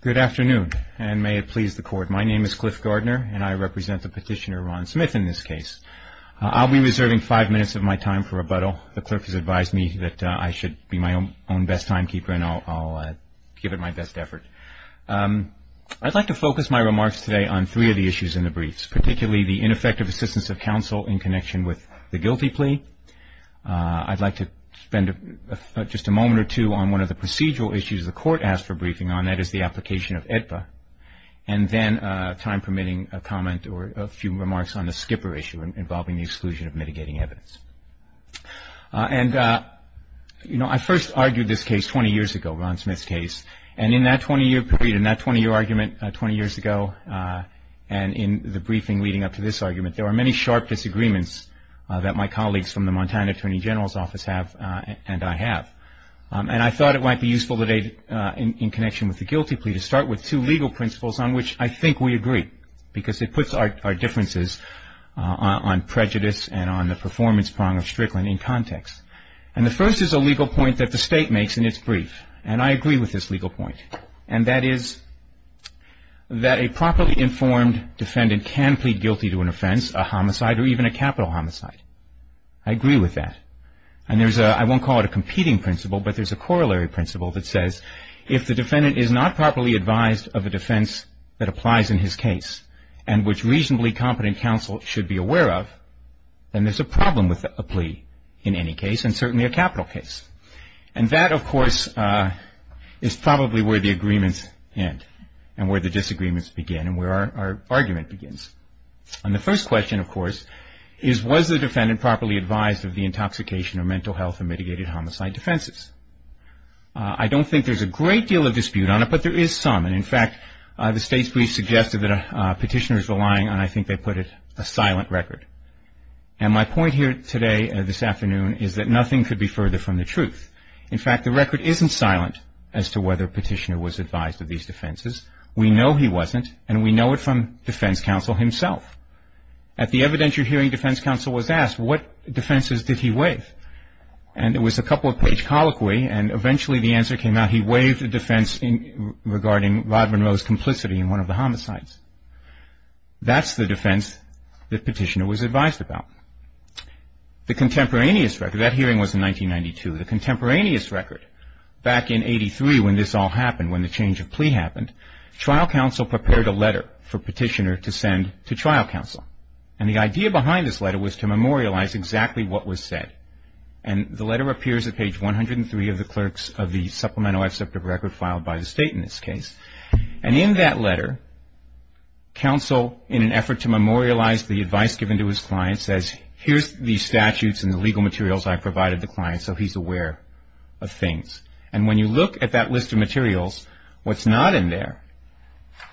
Good afternoon, and may it please the court. My name is Cliff Gardner, and I represent the petitioner Ron Smith in this case. I'll be reserving five minutes of my time for rebuttal. The clerk has advised me that I should be my own best timekeeper, and I'll give it my best effort. I'd like to focus my remarks today on three of the issues in the briefs, particularly the ineffective assistance of counsel in connection with the guilty plea. I'd like to spend just a moment or two on one of the procedural issues the court asked for briefing on, that is the application of AEDPA, and then, time permitting, a comment or a few remarks on the skipper issue involving the exclusion of mitigating evidence. I first argued this case 20 years ago, Ron Smith's case, and in that 20-year period, in that 20-year argument 20 years ago, and in the briefing leading up to this argument, there were many sharp disagreements that my colleagues from the Montana Attorney General's office have, and I have, and I thought it might be useful today in connection with the guilty plea to start with two legal principles on which I think we agree, because it puts our differences on prejudice and on the performance prong of Strickland in context. And the first is a legal point that the State makes in its brief, and I agree with this legal point, and that is that a properly informed defendant can plead guilty to an offense, a homicide, or even a capital homicide. I agree with that, and there's a, I won't call it a competing principle, but there's a corollary principle that says if the defendant is not properly advised of a defense that applies in his case and which reasonably competent counsel should be aware of, then there's a problem with a plea in any case, and certainly a capital case. And that, of course, is probably where the agreements end and where the disagreements begin and where our argument begins. And the first question, of course, is was the defendant properly advised of the intoxication or mental health and mitigated homicide defenses? I don't think there's a great deal of dispute on it, but there is some. And in fact, the State's brief suggested that a petitioner is relying on, I think they put it, a silent record. And my point here today, this afternoon, is that nothing could be further from the truth. In fact, the record isn't silent as to whether a petitioner was advised of these defenses. We know he wasn't, and we know it from defense counsel himself. At the evidentiary hearing, defense counsel was asked what defenses did he waive? And it was a couple-page colloquy, and eventually the answer came out, he waived a defense regarding Rod Monroe's complicity in one of the homicides. That's the defense the petitioner was advised about. The contemporaneous record, that hearing was in 1992, the contemporaneous record, back in 83 when this all happened, when the change of plea happened, trial counsel prepared a letter for petitioner to send to trial counsel. And the idea behind this letter was to memorialize exactly what was said. And the letter appears at page 103 of the clerks of the supplemental except of record filed by the State in this case. And in that letter, counsel, in an effort to memorialize the advice given to his client, says here's the statutes and the legal materials I provided the client so he's aware of things. What's not in there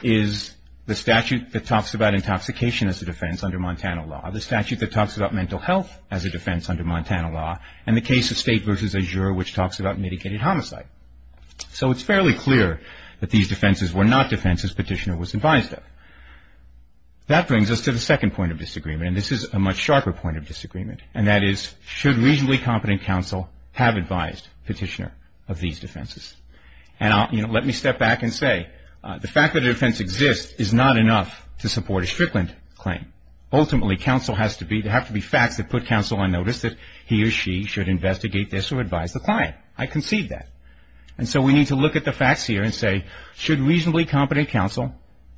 is the statute that talks about intoxication as a defense under Montana law, the statute that talks about mental health as a defense under Montana law, and the case of State v. Azure which talks about mitigated homicide. So it's fairly clear that these defenses were not defenses petitioner was advised of. That brings us to the second point of disagreement, and this is a much sharper point of disagreement. And that is, should reasonably competent counsel have advised petitioner of these defenses? And let me step back and say, the fact that a defense exists is not enough to support a Strickland claim. Ultimately, counsel has to be, there have to be facts that put counsel on notice that he or she should investigate this or advise the client. I concede that. And so we need to look at the facts here and say, should reasonably competent counsel,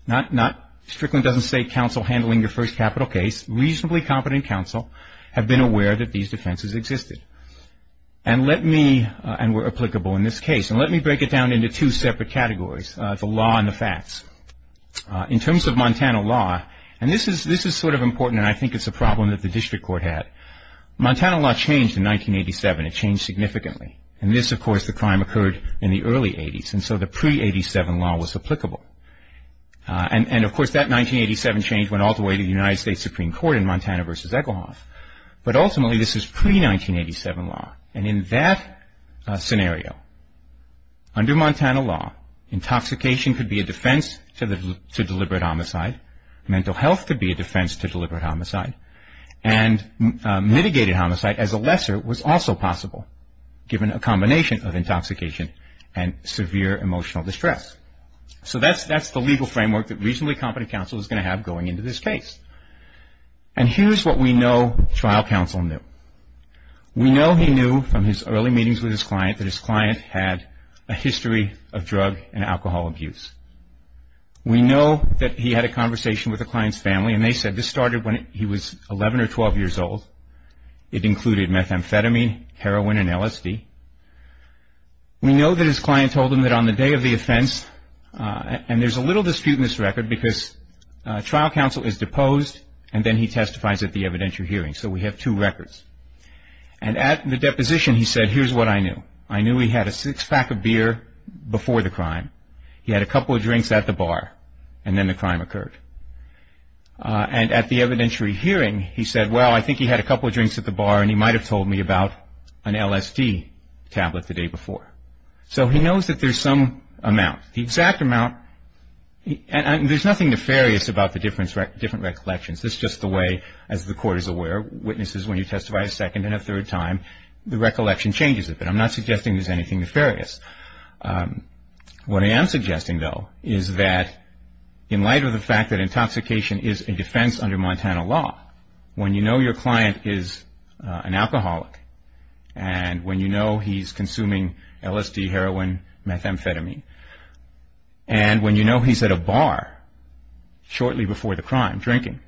not Strickland doesn't say counsel handling your first capital case, reasonably competent counsel have been aware that these defenses existed. And let me, and were applicable in this case, and let me break it down into two separate categories, the law and the facts. In terms of Montana law, and this is sort of important, and I think it's a problem that the district court had. Montana law changed in 1987. It changed significantly. In this, of course, the crime occurred in the early 80s, and so the pre-87 law was applicable. And, of course, that 1987 change went all the way to the United States Supreme Court in Montana v. Echelhoff. But ultimately, this is pre-1987 law. And in that scenario, under Montana law, intoxication could be a defense to deliberate homicide, mental health could be a defense to deliberate homicide, and mitigated homicide as a lesser was also possible, given a combination of intoxication and severe emotional distress. So that's the legal framework that reasonably competent counsel is going to have going into this case. And here's what we know trial counsel knew. We know he knew from his early meetings with his client that his client had a history of drug and alcohol abuse. We know that he had a conversation with the client's family, and they said this started when he was 11 or 12 years old. It included methamphetamine, heroin, and LSD. We know that his client told him that on the day of the offense, and there's a little dispute in this record because trial counsel is deposed, and then he testifies at the evidentiary hearing. So we have two records. And at the deposition, he said, here's what I knew. I knew he had a six-pack of beer before the crime. He had a couple of drinks at the bar, and then the crime occurred. And at the evidentiary hearing, he said, well, I think he had a couple of drinks at the bar, and he might have told me about an LSD tablet the day before. So he knows that there's some amount. The exact amount, and there's nothing nefarious about the different recollections. This is just the way, as the Court is aware, witnesses, when you testify a second and a third time, the recollection changes a bit. I'm not suggesting there's anything nefarious. What I am suggesting, though, is that in light of the fact that intoxication is a defense under Montana law, when you know your client is an alcoholic, and when you know he's consuming LSD, heroin, methamphetamine, and when you know he's at a bar shortly before the crime, drinking,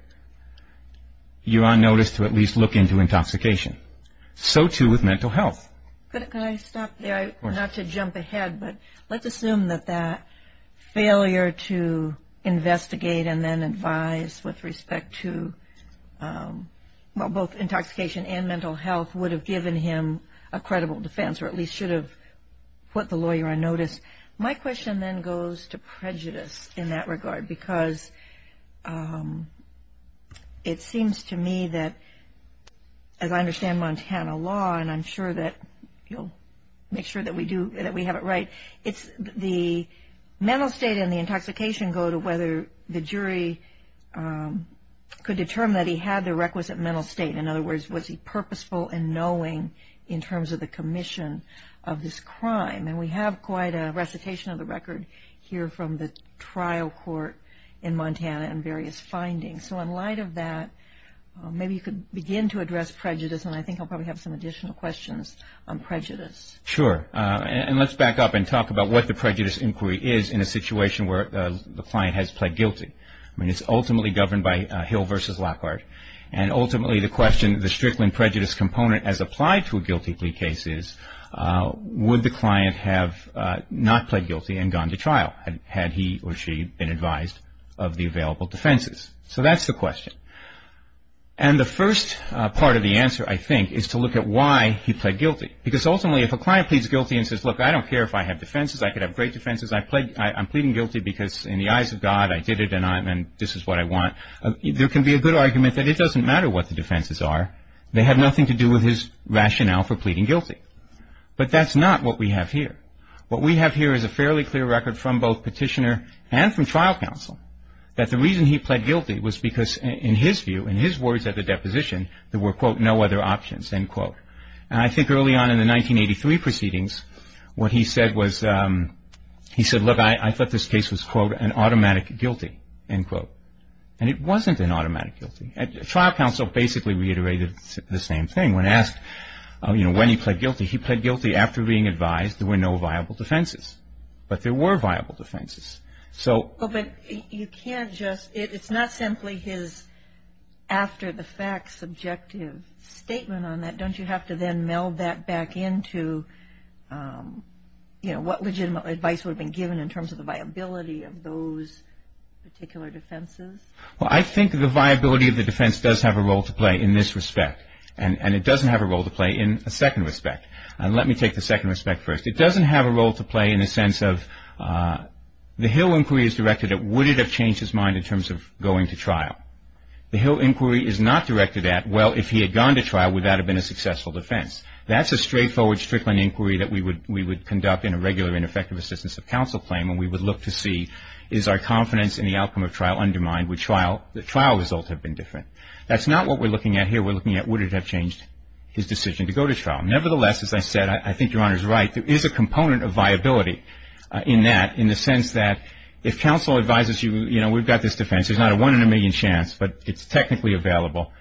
you are noticed to at least look into intoxication. So, too, with mental health. Could I stop there, not to jump ahead, but let's assume that that failure to investigate and then advise with respect to both intoxication and mental health would have given him a credible defense, or at least should have put the lawyer on notice. My question then goes to prejudice in that regard, because it seems to me that, as I understand Montana law, and I'm sure that you'll make sure that we have it right, the mental state and the intoxication go to whether the jury could determine that he had the requisite mental state. In other words, was he purposeful in knowing in terms of the commission of this crime? And we have quite a recitation of the record here from the trial court in Montana and various findings. So, in light of that, maybe you could begin to address prejudice, and I think I'll probably have some additional questions on prejudice. Sure. And let's back up and talk about what the prejudice inquiry is in a situation where the client has pled guilty. I mean, it's ultimately governed by Hill v. Lockhart, and ultimately the question, the Strickland prejudice component as applied to a guilty plea case is, would the client have not pled guilty and gone to trial had he or she been advised of the available defenses? So that's the question. And the first part of the answer, I think, is to look at why he pled guilty, because ultimately if a client pleads guilty and says, look, I don't care if I have defenses, I could have great defenses, I'm pleading guilty because in the eyes of God I did it and this is what I want, there can be a good argument that it doesn't matter what the defenses are. They have nothing to do with his rationale for pleading guilty. But that's not what we have here. What we have here is a fairly clear record from both petitioner and from trial counsel that the reason he pled guilty was because in his view, in his words at the deposition, there were, quote, no other options, end quote. And I think early on in the 1983 proceedings what he said was, he said, look, I thought this case was, quote, an automatic guilty, end quote. And it wasn't an automatic guilty. Trial counsel basically reiterated the same thing. When asked, you know, when he pled guilty, he pled guilty after being advised there were no viable defenses. But there were viable defenses. But you can't just, it's not simply his after the fact subjective statement on that. Don't you have to then meld that back into, you know, what legitimate advice would have been given in terms of the viability of those particular defenses? Well, I think the viability of the defense does have a role to play in this respect and it doesn't have a role to play in a second respect. And let me take the second respect first. It doesn't have a role to play in the sense of the Hill inquiry is directed at, would it have changed his mind in terms of going to trial? The Hill inquiry is not directed at, well, if he had gone to trial, would that have been a successful defense? That's a straightforward Strickland inquiry that we would conduct in a regular ineffective assistance of counsel claim and we would look to see, is our confidence in the outcome of trial undermined? Would the trial results have been different? That's not what we're looking at here. Nevertheless, as I said, I think Your Honor is right. There is a component of viability in that, in the sense that if counsel advises you, you know, we've got this defense. There's not a one in a million chance, but it's technically available.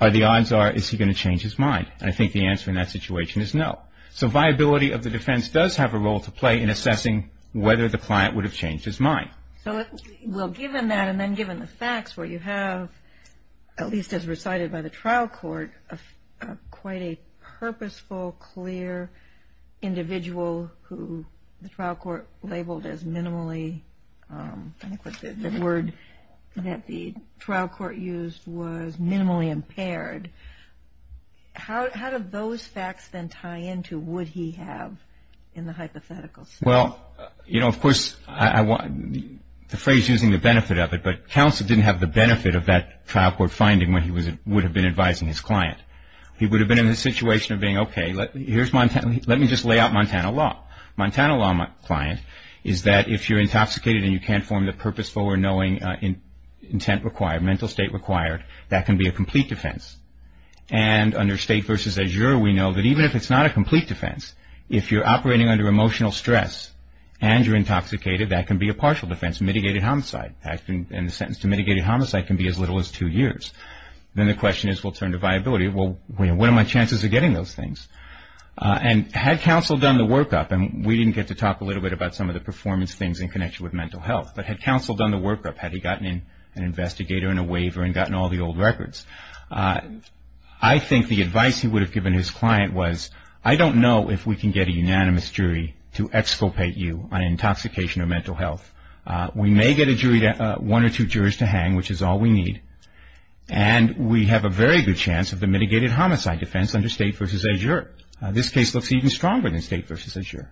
The odds are, is he going to change his mind? I think the answer in that situation is no. So viability of the defense does have a role to play in assessing whether the client would have changed his mind. Well, given that and then given the facts where you have, at least as recited by the trial court, quite a purposeful, clear individual who the trial court labeled as minimally, I think the word that the trial court used was minimally impaired. How do those facts then tie into would he have in the hypothetical? Well, you know, of course, the phrase using the benefit of it, but counsel didn't have the benefit of that trial court finding when he would have been advising his client. He would have been in the situation of being, okay, let me just lay out Montana law. Montana law, my client, is that if you're intoxicated and you can't form the purposeful or knowing intent required, mental state required, that can be a complete defense. And under state versus azure, we know that even if it's not a complete defense, if you're operating under emotional stress and you're intoxicated, that can be a partial defense, mitigated homicide. And the sentence to mitigated homicide can be as little as two years. Then the question is, well, turn to viability. Well, what are my chances of getting those things? And had counsel done the workup, and we didn't get to talk a little bit about some of the performance things in connection with mental health, but had counsel done the workup, had he gotten an investigator and a waiver and gotten all the old records? I think the advice he would have given his client was, I don't know if we can get a unanimous jury to exculpate you on intoxication or mental health. We may get one or two jurors to hang, which is all we need. And we have a very good chance of the mitigated homicide defense under state versus azure. This case looks even stronger than state versus azure.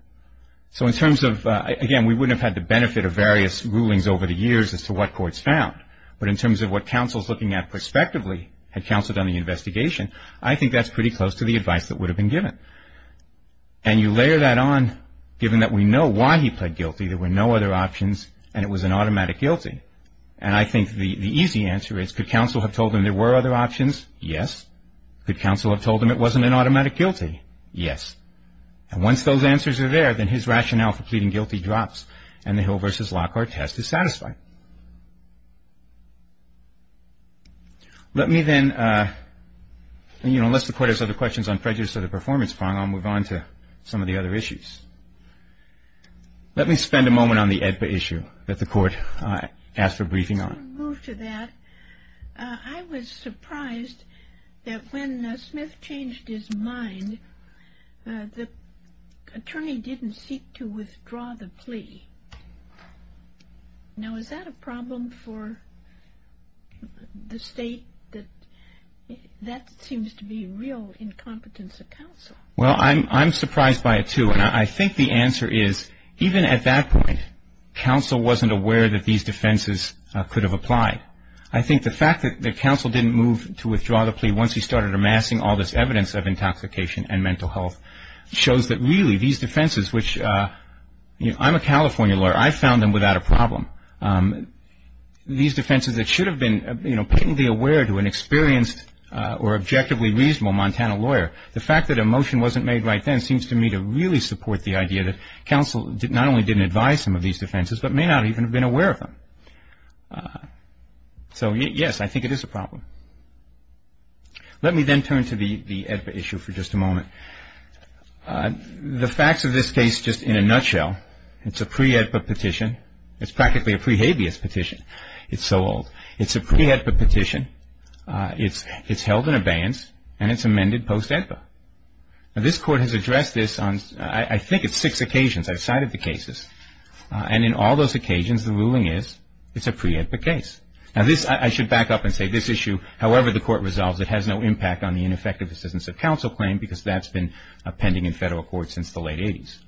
So in terms of, again, we wouldn't have had the benefit of various rulings over the years as to what courts found. But in terms of what counsel is looking at prospectively, had counsel done the investigation, I think that's pretty close to the advice that would have been given. And you layer that on, given that we know why he pled guilty, there were no other options, and it was an automatic guilty. And I think the easy answer is, could counsel have told him there were other options? Yes. Could counsel have told him it wasn't an automatic guilty? Yes. And once those answers are there, then his rationale for pleading guilty drops, and the Hill versus Lockhart test is satisfied. Let me then, you know, unless the Court has other questions on prejudice or the performance prong, I'll move on to some of the other issues. Let me spend a moment on the AEDPA issue that the Court asked for briefing on. Before we move to that, I was surprised that when Smith changed his mind, the attorney didn't seek to withdraw the plea. Now, is that a problem for the State? That seems to be real incompetence of counsel. Well, I'm surprised by it, too. And I think the answer is, even at that point, counsel wasn't aware that these defenses could have applied. And once he started amassing all this evidence of intoxication and mental health, it shows that, really, these defenses, which, you know, I'm a California lawyer. I found them without a problem. These defenses that should have been, you know, patently aware to an experienced or objectively reasonable Montana lawyer, the fact that a motion wasn't made right then seems to me to really support the idea that counsel not only didn't advise him of these defenses, but may not even have been aware of them. So, yes, I think it is a problem. Let me then turn to the AEDPA issue for just a moment. The facts of this case, just in a nutshell, it's a pre-AEDPA petition. It's practically a pre-habeas petition. It's so old. It's a pre-AEDPA petition. It's held in abeyance, and it's amended post-AEDPA. Now, this Court has addressed this on, I think it's six occasions. I've cited the cases. And in all those occasions, the ruling is it's a pre-AEDPA case. Now, this, I should back up and say this issue, however the Court resolves it, has no impact on the ineffective assistance of counsel claim because that's been pending in federal court since the late 80s.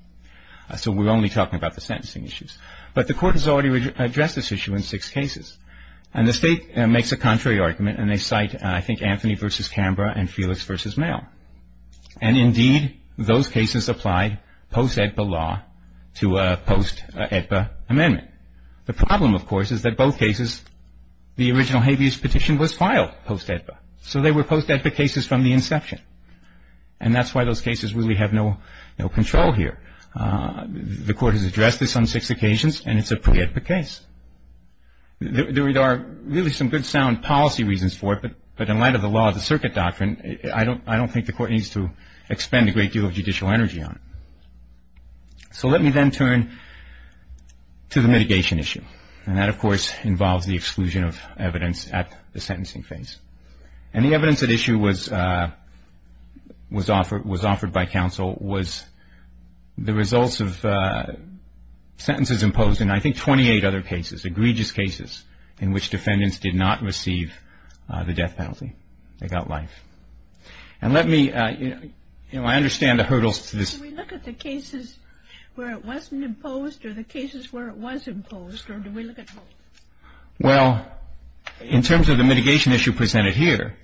So we're only talking about the sentencing issues. But the Court has already addressed this issue in six cases. And the State makes a contrary argument, and they cite, I think, Anthony v. Canberra and Felix v. Mayo. And indeed, those cases apply post-AEDPA law to a post-AEDPA amendment. The problem, of course, is that both cases, the original habeas petition was filed post-AEDPA. So they were post-AEDPA cases from the inception. And that's why those cases really have no control here. The Court has addressed this on six occasions, and it's a pre-AEDPA case. There are really some good sound policy reasons for it, but in light of the law of the circuit doctrine, I don't think the Court needs to expend a great deal of judicial energy on it. So let me then turn to the mitigation issue. And that, of course, involves the exclusion of evidence at the sentencing phase. And the evidence at issue was offered by counsel was the results of sentences imposed in, I think, 28 other cases, in which defendants did not receive the death penalty. They got life. And let me, you know, I understand the hurdles to this. Do we look at the cases where it wasn't imposed or the cases where it was imposed, or do we look at both? Well, in terms of the mitigation issue presented here,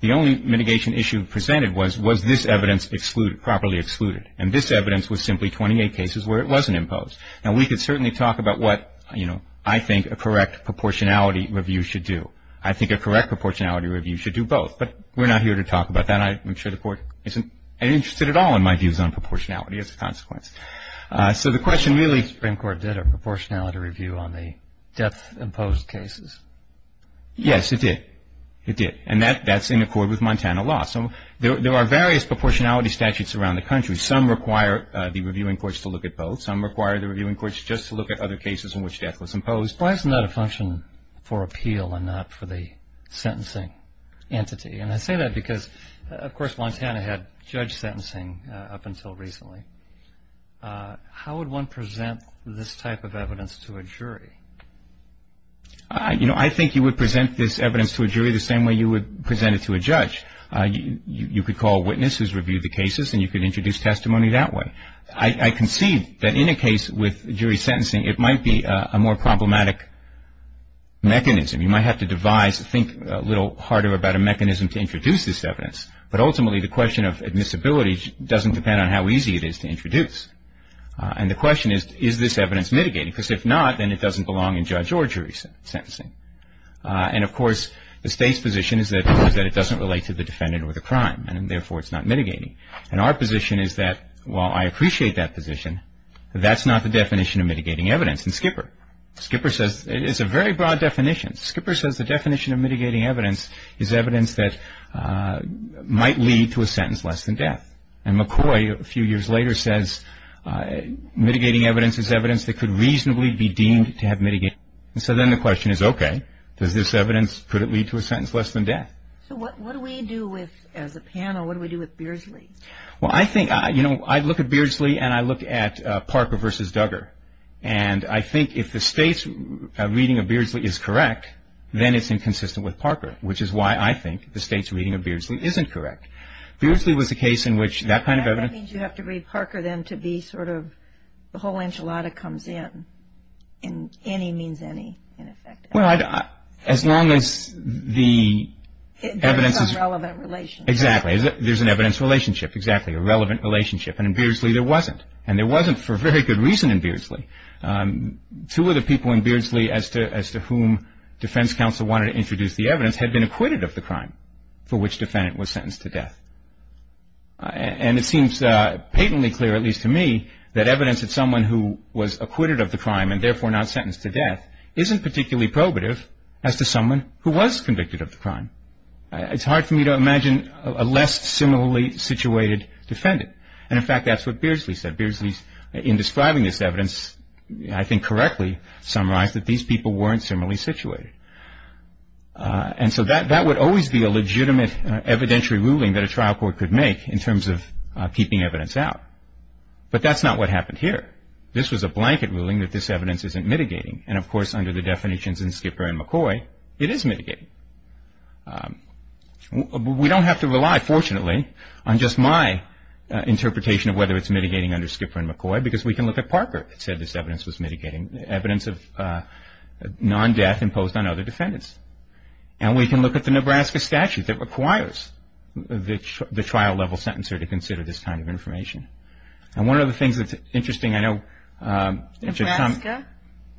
the only mitigation issue presented was, was this evidence excluded, properly excluded? And this evidence was simply 28 cases where it wasn't imposed. Now, we could certainly talk about what, you know, I think a correct proportionality review should do. I think a correct proportionality review should do both. But we're not here to talk about that. I'm sure the Court isn't interested at all in my views on proportionality as a consequence. So the question really — The Supreme Court did a proportionality review on the death-imposed cases. Yes, it did. It did. And that's in accord with Montana law. So there are various proportionality statutes around the country. Some require the reviewing courts to look at both. Some require the reviewing courts just to look at other cases in which death was imposed. Why isn't that a function for appeal and not for the sentencing entity? And I say that because, of course, Montana had judge sentencing up until recently. How would one present this type of evidence to a jury? You know, I think you would present this evidence to a jury the same way you would present it to a judge. You could call witnesses, review the cases, and you could introduce testimony that way. I concede that in a case with jury sentencing, it might be a more problematic mechanism. You might have to devise, think a little harder about a mechanism to introduce this evidence. But ultimately, the question of admissibility doesn't depend on how easy it is to introduce. And the question is, is this evidence mitigating? Because if not, then it doesn't belong in judge or jury sentencing. And, of course, the State's position is that it doesn't relate to the defendant or the crime, and therefore it's not mitigating. And our position is that, while I appreciate that position, that's not the definition of mitigating evidence. And Skipper, Skipper says it's a very broad definition. Skipper says the definition of mitigating evidence is evidence that might lead to a sentence less than death. And McCoy, a few years later, says mitigating evidence is evidence that could reasonably be deemed to have mitigated. And so then the question is, okay, does this evidence, could it lead to a sentence less than death? So what do we do with, as a panel, what do we do with Beardsley? Well, I think, you know, I look at Beardsley and I look at Parker v. Duggar. And I think if the State's reading of Beardsley is correct, then it's inconsistent with Parker, which is why I think the State's reading of Beardsley isn't correct. Beardsley was a case in which that kind of evidence. That means you have to read Parker, then, to be sort of the whole enchilada comes in. And any means any, in effect. Well, as long as the evidence is. There's a relevant relationship. Exactly. There's an evidence relationship. Exactly. A relevant relationship. And in Beardsley there wasn't. And there wasn't for a very good reason in Beardsley. Two of the people in Beardsley as to whom defense counsel wanted to introduce the evidence had been acquitted of the crime for which defendant was sentenced to death. And it seems patently clear, at least to me, that evidence that someone who was acquitted of the crime and, therefore, not sentenced to death, isn't particularly probative as to someone who was convicted of the crime. It's hard for me to imagine a less similarly situated defendant. And, in fact, that's what Beardsley said. Beardsley, in describing this evidence, I think correctly summarized that these people weren't similarly situated. And so that would always be a legitimate evidentiary ruling that a trial court could make in terms of keeping evidence out. But that's not what happened here. This was a blanket ruling that this evidence isn't mitigating. And, of course, under the definitions in Skipper and McCoy, it is mitigating. We don't have to rely, fortunately, on just my interpretation of whether it's mitigating under Skipper and McCoy because we can look at Parker that said this evidence was mitigating evidence of non-death imposed on other defendants. And we can look at the Nebraska statute that requires the trial level sentencer to consider this kind of information. And one of the things that's interesting, I know... Nebraska?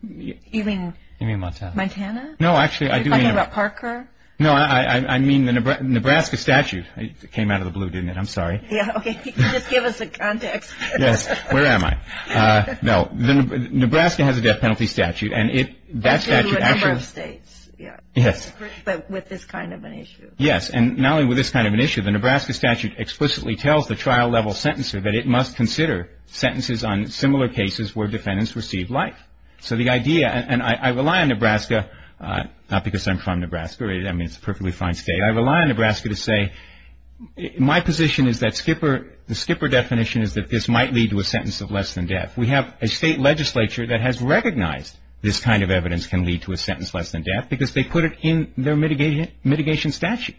You mean Montana? Montana? No, actually, I do mean... Are you talking about Parker? No, I mean the Nebraska statute. It came out of the blue, didn't it? I'm sorry. Yeah, okay. Just give us a context. Yes. Where am I? No. Nebraska has a death penalty statute and it... A number of states. Yes. But with this kind of an issue. Yes, and not only with this kind of an issue, the Nebraska statute explicitly tells the trial level sentencer that it must consider sentences on similar cases where defendants received life. So the idea, and I rely on Nebraska, not because I'm from Nebraska. I mean, it's a perfectly fine state. I rely on Nebraska to say my position is that Skipper, the Skipper definition is that this might lead to a sentence of less than death. We have a state legislature that has recognized this kind of evidence can lead to a sentence less than death because they put it in their mitigation statute.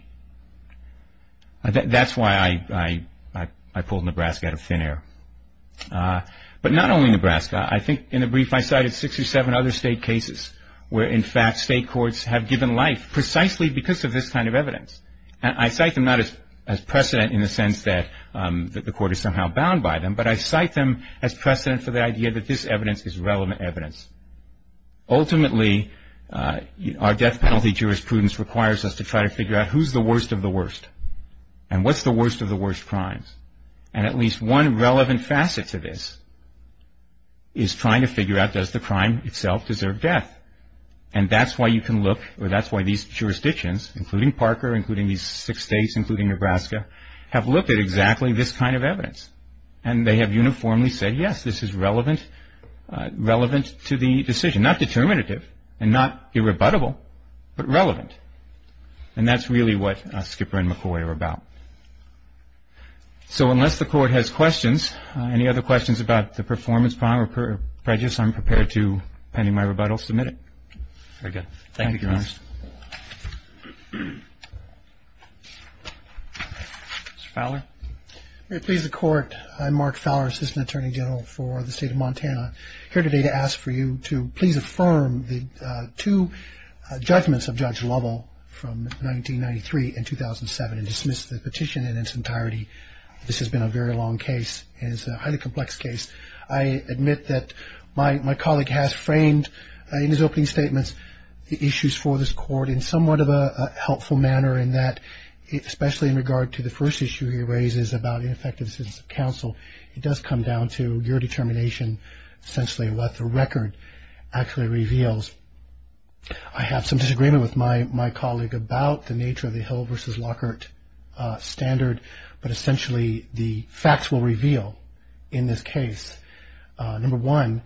That's why I pulled Nebraska out of thin air. But not only Nebraska. I think in the brief I cited six or seven other state cases where, in fact, state courts have given life precisely because of this kind of evidence. And I cite them not as precedent in the sense that the court is somehow bound by them, but I cite them as precedent for the idea that this evidence is relevant evidence. Ultimately, our death penalty jurisprudence requires us to try to figure out who's the worst of the worst and what's the worst of the worst crimes. And at least one relevant facet to this is trying to figure out does the crime itself deserve death. And that's why you can look, or that's why these jurisdictions, including Parker, including these six states, including Nebraska, have looked at exactly this kind of evidence. And they have uniformly said, yes, this is relevant to the decision. Not determinative and not irrebuttable, but relevant. And that's really what Skipper and McCoy are about. So unless the court has questions, any other questions about the performance problem or prejudice, I'm prepared to, pending my rebuttal, submit it. Very good. Thank you, Your Honor. Mr. Fowler. May it please the Court. I'm Mark Fowler, Assistant Attorney General for the State of Montana, here today to ask for you to please affirm the two judgments of Judge Lovell from 1993 and 2007 and dismiss the petition in its entirety. This has been a very long case, and it's a highly complex case. I admit that my colleague has framed in his opening statements the issues for this court in somewhat of a helpful manner in that especially in regard to the first issue he raises about ineffectiveness of counsel, it does come down to your determination essentially what the record actually reveals. I have some disagreement with my colleague about the nature of the Hill v. Lockhart standard, but essentially the facts will reveal in this case. Number one,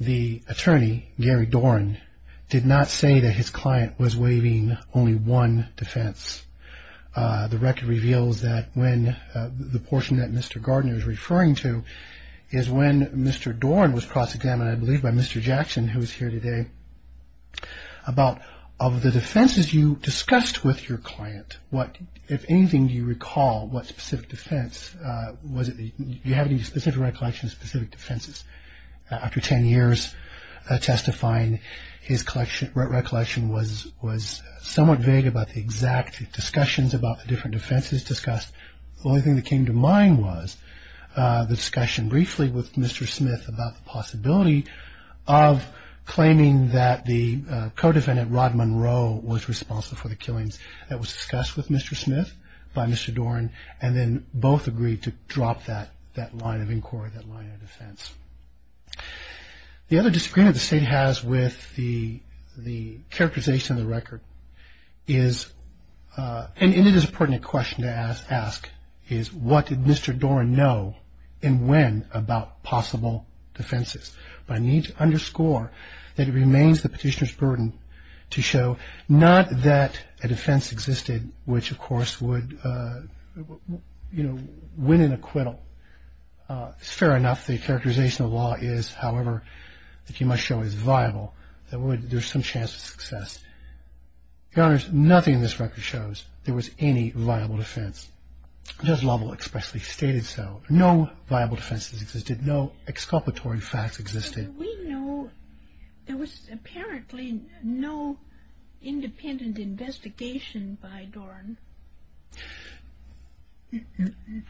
the attorney, Gary Dorn, did not say that his client was waiving only one defense. The record reveals that when the portion that Mr. Gardner is referring to is when Mr. Dorn was cross-examined, I believe by Mr. Jackson, who is here today, about of the defenses you discussed with your client, if anything, do you recall what specific defense was it? Do you have any specific recollections of specific defenses? After 10 years testifying, his recollection was somewhat vague about the exact discussions about the different defenses discussed. The only thing that came to mind was the discussion briefly with Mr. Smith about the possibility of claiming that the co-defendant, Rod Monroe, was responsible for the killings that was discussed with Mr. Smith by Mr. Dorn and then both agreed to drop that line of inquiry, that line of defense. The other disagreement the State has with the characterization of the record is, and it is a pertinent question to ask, is what did Mr. Dorn know and when about possible defenses? But I need to underscore that it remains the petitioner's burden to show not that a defense existed, which of course would, you know, win an acquittal. Fair enough, the characterization of the law is, however, that you might show is viable, that there's some chance of success. Your Honors, nothing in this record shows there was any viable defense. Judge Lovell expressly stated so. No viable defenses existed. No exculpatory facts existed. We know there was apparently no independent investigation by Dorn.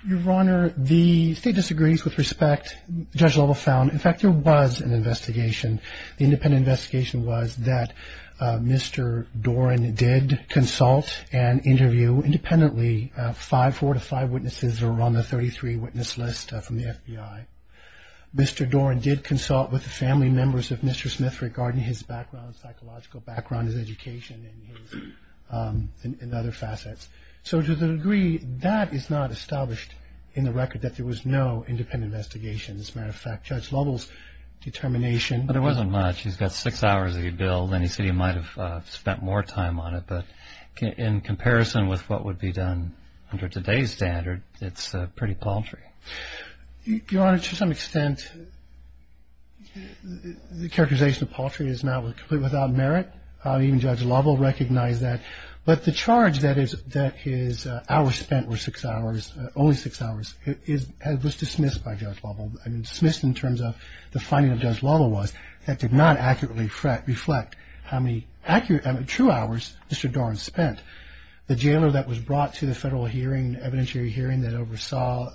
Your Honor, the State disagrees with respect. Judge Lovell found, in fact, there was an investigation. The independent investigation was that Mr. Dorn did consult and interview independently five, four to five witnesses who were on the 33 witness list from the FBI. Mr. Dorn did consult with the family members of Mr. Smith regarding his background, psychological background, his education, and other facets. So to the degree that is not established in the record that there was no independent investigation. As a matter of fact, Judge Lovell's determination. But it wasn't much. He's got six hours of his bill, and he said he might have spent more time on it. But in comparison with what would be done under today's standard, it's pretty paltry. Your Honor, to some extent, the characterization of paltry is now completely without merit. Even Judge Lovell recognized that. But the charge that his hours spent were six hours, only six hours, was dismissed by Judge Lovell, dismissed in terms of the finding of Judge Lovell was that did not accurately reflect how many true hours Mr. Dorn spent. The jailer that was brought to the federal hearing, evidentiary hearing, that oversaw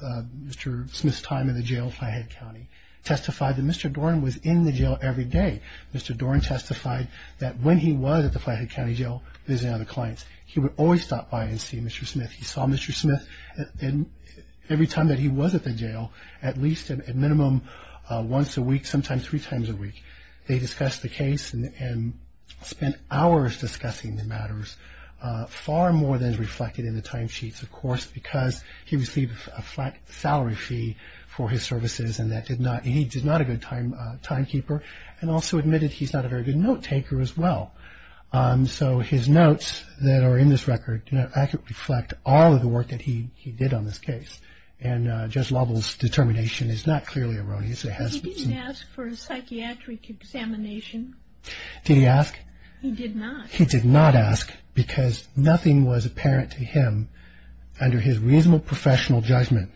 Mr. Smith's time in the jail, Flathead County, testified that Mr. Dorn was in the jail every day. Mr. Dorn testified that when he was at the Flathead County Jail visiting other clients, he would always stop by and see Mr. Smith. He saw Mr. Smith every time that he was at the jail, at least a minimum once a week, sometimes three times a week. They discussed the case and spent hours discussing the matters, far more than is reflected in the timesheets, of course, because he received a flat salary fee for his services and he's not a good timekeeper and also admitted he's not a very good note taker as well. So his notes that are in this record don't accurately reflect all of the work that he did on this case. And Judge Lovell's determination is not clearly erroneous. He didn't ask for a psychiatric examination. Did he ask? He did not. He did not ask because nothing was apparent to him under his reasonable professional judgment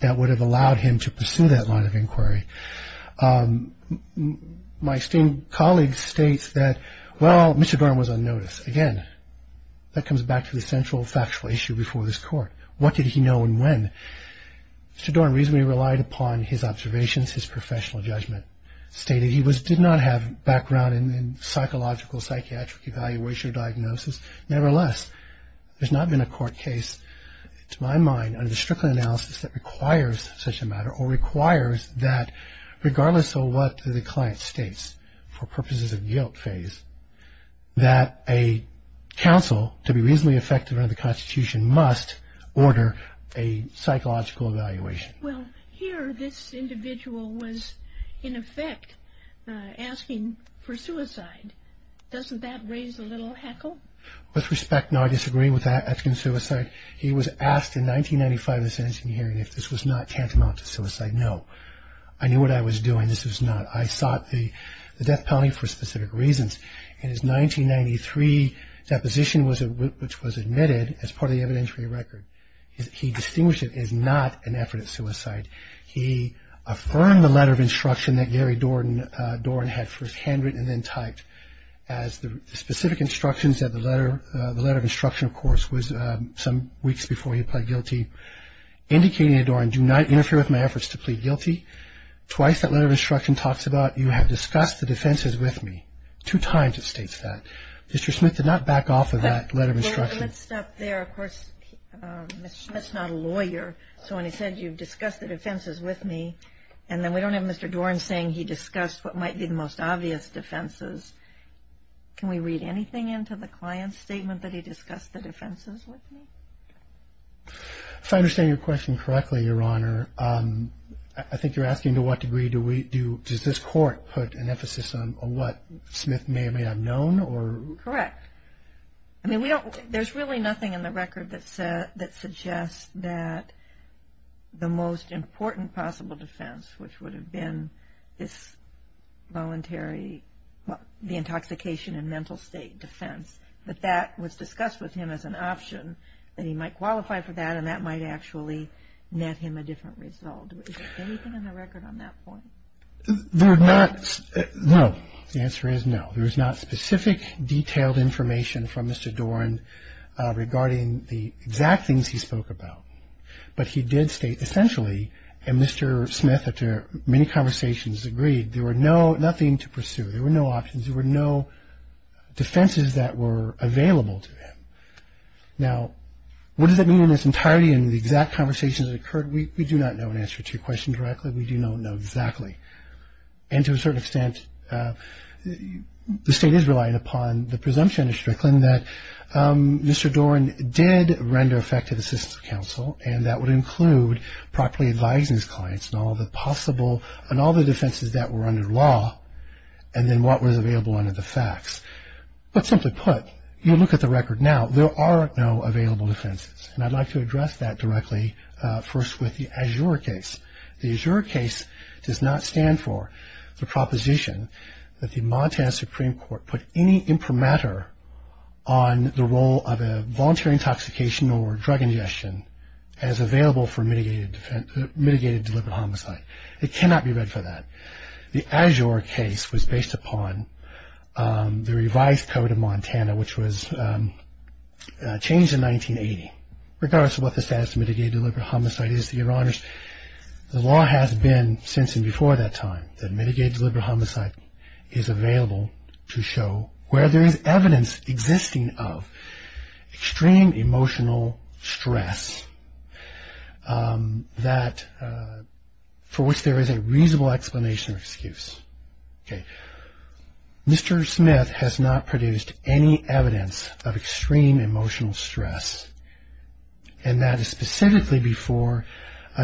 that would have allowed him to pursue that line of inquiry. My esteemed colleague states that, well, Mr. Dorn was on notice. Again, that comes back to the central factual issue before this Court. What did he know and when? Mr. Dorn reasonably relied upon his observations, his professional judgment, stating he did not have background in psychological, psychiatric evaluation or diagnosis. Nevertheless, there's not been a court case, to my mind, under the stricter analysis that requires such a matter or requires that, regardless of what the client states for purposes of guilt phase, that a counsel to be reasonably effective under the Constitution must order a psychological evaluation. Well, here this individual was, in effect, asking for suicide. Doesn't that raise a little heckle? With respect, no, I disagree with that, asking for suicide. He was asked in 1995 in the sentencing hearing if this was not tantamount to suicide. No. I knew what I was doing. This was not. I sought the death penalty for specific reasons. In his 1993 deposition, which was admitted as part of the evidentiary record, he distinguished it as not an effort at suicide. He affirmed the letter of instruction that Gary Dorn had first handwritten and then typed as the specific instructions of the letter, the letter of instruction, of course, was some weeks before he pled guilty, indicating to Dorn, do not interfere with my efforts to plead guilty. Twice that letter of instruction talks about you have discussed the defenses with me. Two times it states that. Mr. Smith did not back off of that letter of instruction. Let's stop there. Of course, Mr. Smith's not a lawyer, so when he said you've discussed the defenses with me and then we don't have Mr. Dorn saying he discussed what might be the most obvious defenses, can we read anything into the client's statement that he discussed the defenses with me? If I understand your question correctly, Your Honor, I think you're asking to what degree does this court put an emphasis on what Smith may or may have known? Correct. I mean, there's really nothing in the record that suggests that the most important possible defense, which would have been this voluntary, the intoxication and mental state defense, that that was discussed with him as an option, that he might qualify for that and that might actually net him a different result. Is there anything in the record on that point? There is not. No. The answer is no. There is not specific detailed information from Mr. Dorn regarding the exact things he spoke about. But he did state essentially, and Mr. Smith, after many conversations, agreed, there were nothing to pursue, there were no options, there were no defenses that were available to him. Now, what does that mean in its entirety and the exact conversations that occurred? We do not know an answer to your question directly. We do not know exactly. And to a certain extent, the State is relying upon the presumption of Strickland that Mr. Dorn did render effective assistance to counsel and that would include properly advising his clients on all the possible and all the defenses that were under law and then what was available under the facts. But simply put, you look at the record now, there are no available defenses. And I'd like to address that directly first with the Azure case. The Azure case does not stand for the proposition that the Montana Supreme Court put any imprimatur on the role of a voluntary intoxication or drug ingestion as available for mitigated deliberate homicide. It cannot be read for that. The Azure case was based upon the revised code of Montana, which was changed in 1980. Regardless of what the status of mitigated deliberate homicide is, Your Honors, the law has been since and before that time that mitigated deliberate homicide is available to show where there is evidence existing of extreme emotional stress that for which there is a reasonable explanation or excuse. Okay. Mr. Smith has not produced any evidence of extreme emotional stress and that is specifically before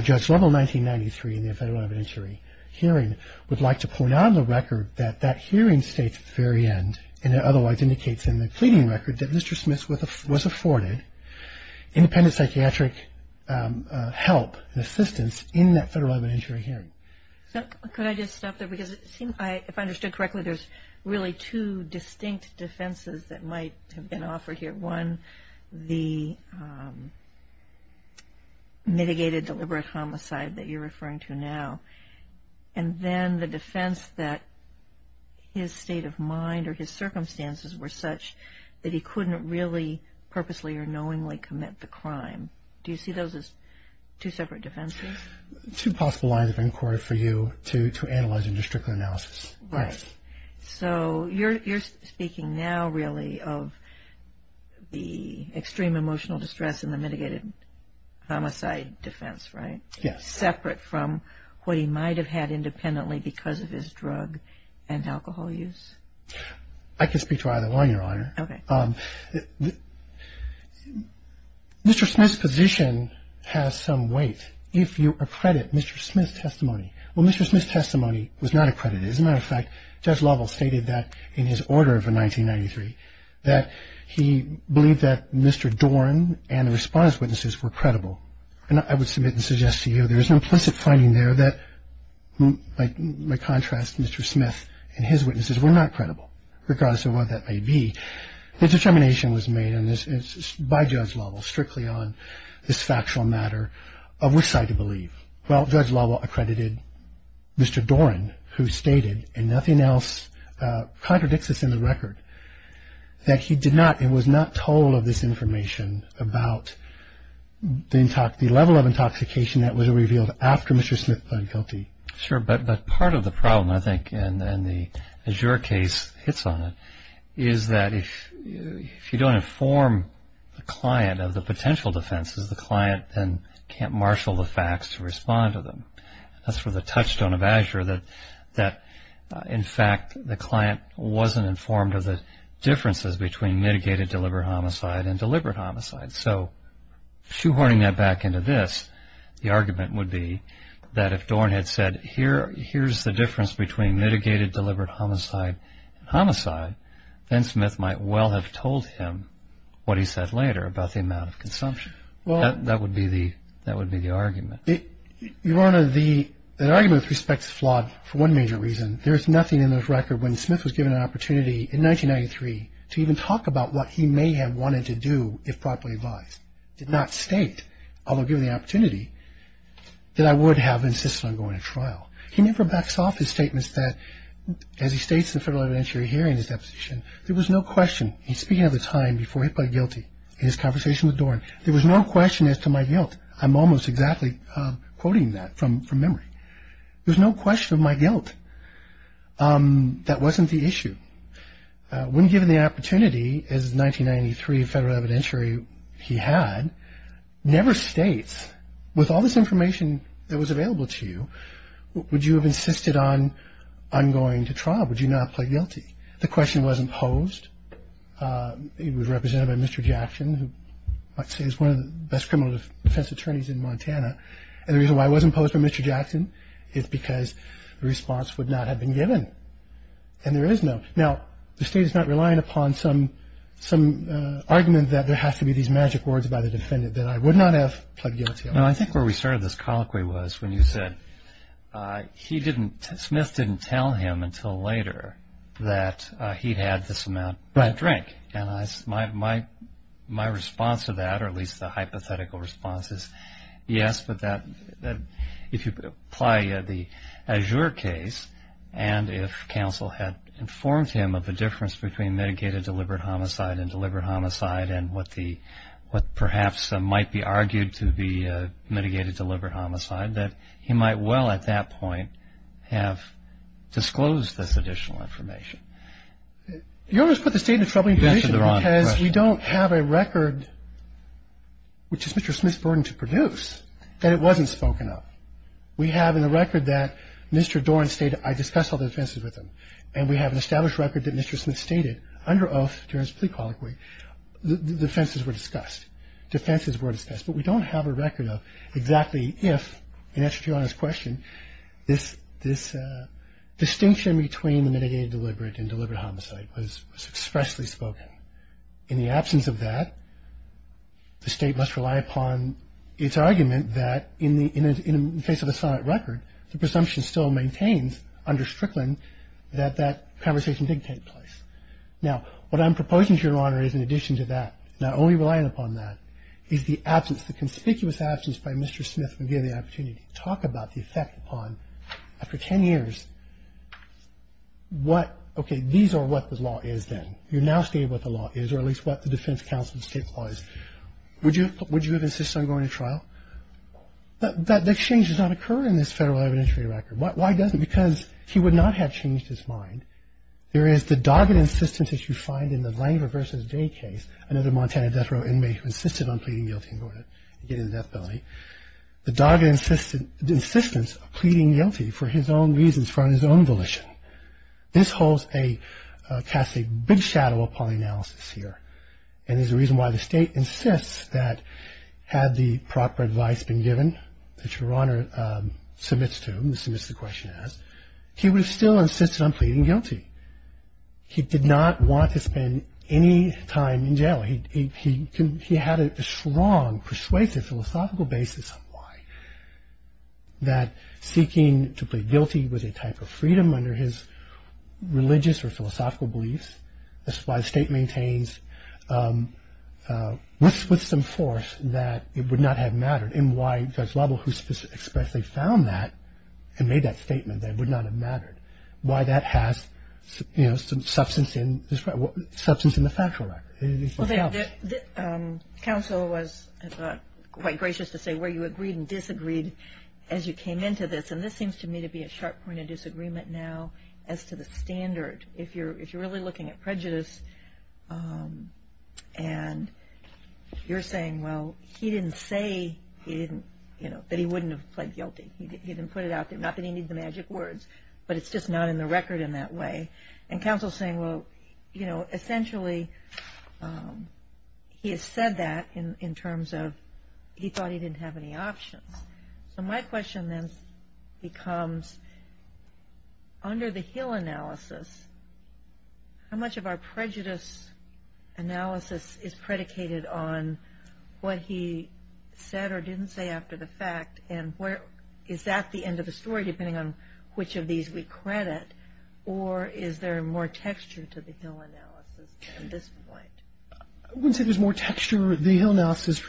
Judge Lovell 1993 in the federal evidentiary hearing would like to point out on the record that that hearing states at the very end and it otherwise indicates in the pleading record that Mr. Smith was afforded independent psychiatric help and assistance in that federal evidentiary hearing. Could I just stop there because it seems, if I understood correctly, there's really two distinct defenses that might have been offered here. One, the mitigated deliberate homicide that you're referring to now. And then the defense that his state of mind or his circumstances were such that he couldn't really purposely or knowingly commit the crime. Do you see those as two separate defenses? Two possible lines of inquiry for you to analyze and to stricter analysis. Right. So you're speaking now really of the extreme emotional distress and the mitigated homicide defense, right? Yes. Separate from what he might have had independently because of his drug and alcohol use? I can speak to either one, Your Honor. Okay. Mr. Smith's position has some weight if you accredit Mr. Smith's testimony. Well, Mr. Smith's testimony was not accredited. As a matter of fact, Judge Lovell stated that in his order of 1993 that he believed that Mr. Doran and the response witnesses were credible. And I would submit and suggest to you there is an implicit finding there that, by contrast, Mr. Smith and his witnesses were not credible regardless of what that may be. The determination was made by Judge Lovell strictly on this factual matter of which side to believe. Well, Judge Lovell accredited Mr. Doran, who stated, and nothing else contradicts this in the record, that he did not and was not told of this information about the level of intoxication that was revealed after Mr. Smith pled guilty. Sure. But part of the problem, I think, and the Azure case hits on it, is that if you don't inform the client of the potential defenses, the client then can't marshal the facts to respond to them. That's where the touchstone of Azure that, in fact, the client wasn't informed of the differences between mitigated deliberate homicide and deliberate homicide. So shoehorning that back into this, the argument would be that if Doran had said, here's the difference between mitigated deliberate homicide and homicide, then Smith might well have told him what he said later about the amount of consumption. That would be the argument. Your Honor, the argument, with respect, is flawed for one major reason. There is nothing in this record when Smith was given an opportunity in 1993 to even talk about what he may have wanted to do if properly advised. Did not state, although given the opportunity, that I would have insisted on going to trial. He never backs off his statements that, as he states in the federal evidentiary hearing in his deposition, there was no question, and speaking of the time before he pled guilty in his conversation with Doran, there was no question as to my guilt. I'm almost exactly quoting that from memory. There was no question of my guilt. That wasn't the issue. When given the opportunity, as 1993 federal evidentiary, he had, never states, with all this information that was available to you, would you have insisted on going to trial? Would you not have pled guilty? The question wasn't posed. It was represented by Mr. Jackson, who I'd say is one of the best criminal defense attorneys in Montana. And the reason why it wasn't posed by Mr. Jackson is because the response would not have been given. And there is no. Now, the state is not relying upon some argument that there has to be these magic words by the defendant, that I would not have pled guilty. No, I think where we started this colloquy was when you said he didn't, Smith didn't tell him until later that he'd had this amount to drink. And my response to that, or at least the hypothetical response, is yes, but that if you apply the Azure case, and if counsel had informed him of the difference between mitigated deliberate homicide and deliberate homicide and what perhaps might be argued to be mitigated deliberate homicide, that he might well at that point have disclosed this additional information. You always put the state in a troubling position because we don't have a record, which is Mr. Smith's burden to produce, that it wasn't spoken of. We have in the record that Mr. Doran stated, I discussed all the offenses with him, and we have an established record that Mr. Smith stated under oath during his plea colloquy, the offenses were discussed, defenses were discussed. But we don't have a record of exactly if, in answer to your honest question, this distinction between the mitigated deliberate and deliberate homicide was expressly spoken. In the absence of that, the state must rely upon its argument that in the face of a solid record, the presumption still maintains under Strickland that that conversation did take place. Now, what I'm proposing, Your Honor, is in addition to that, not only relying upon that, is the absence, the conspicuous absence by Mr. Smith when given the opportunity to talk about the effect upon, after 10 years, what, okay, these are what the law is then. You're now stating what the law is, or at least what the defense counsel's state law is. Would you have insisted on going to trial? That exchange does not occur in this Federal evidentiary record. Why doesn't? Because he would not have changed his mind. There is the dogged insistence, as you find in the Langer v. Day case, another Montana death row inmate who insisted on pleading guilty and going to get into death penalty, the dogged insistence of pleading guilty for his own reasons, for his own volition. This holds a, casts a big shadow upon the analysis here, and is the reason why the State insists that had the proper advice been given, that Your Honor submits to him, submits the question as, he would have still insisted on pleading guilty. He did not want to spend any time in jail. He had a strong, persuasive, philosophical basis on why, that seeking to plead guilty was a type of freedom under his religious or philosophical beliefs. This is why the State maintains, with some force, that it would not have mattered, and why Judge Lovell, who expressly found that and made that statement, that it would not have mattered, why that has substance in the factual record. Counsel was quite gracious to say where you agreed and disagreed as you came into this, and this seems to me to be a sharp point of disagreement now as to the standard. If you're really looking at prejudice, and you're saying, well, he didn't say that he wouldn't have pled guilty. He didn't put it out there, not that he needs the magic words, but it's just not in the record in that way. Counsel is saying, well, essentially, he has said that in terms of, he thought he didn't have any options. So my question then becomes, under the Hill analysis, how much of our prejudice analysis is predicated on what he said or didn't say after the fact, and is that the end of the story, depending on which of these we credit, or is there more texture to the Hill analysis at this point? I wouldn't say there's more texture. The Hill analysis has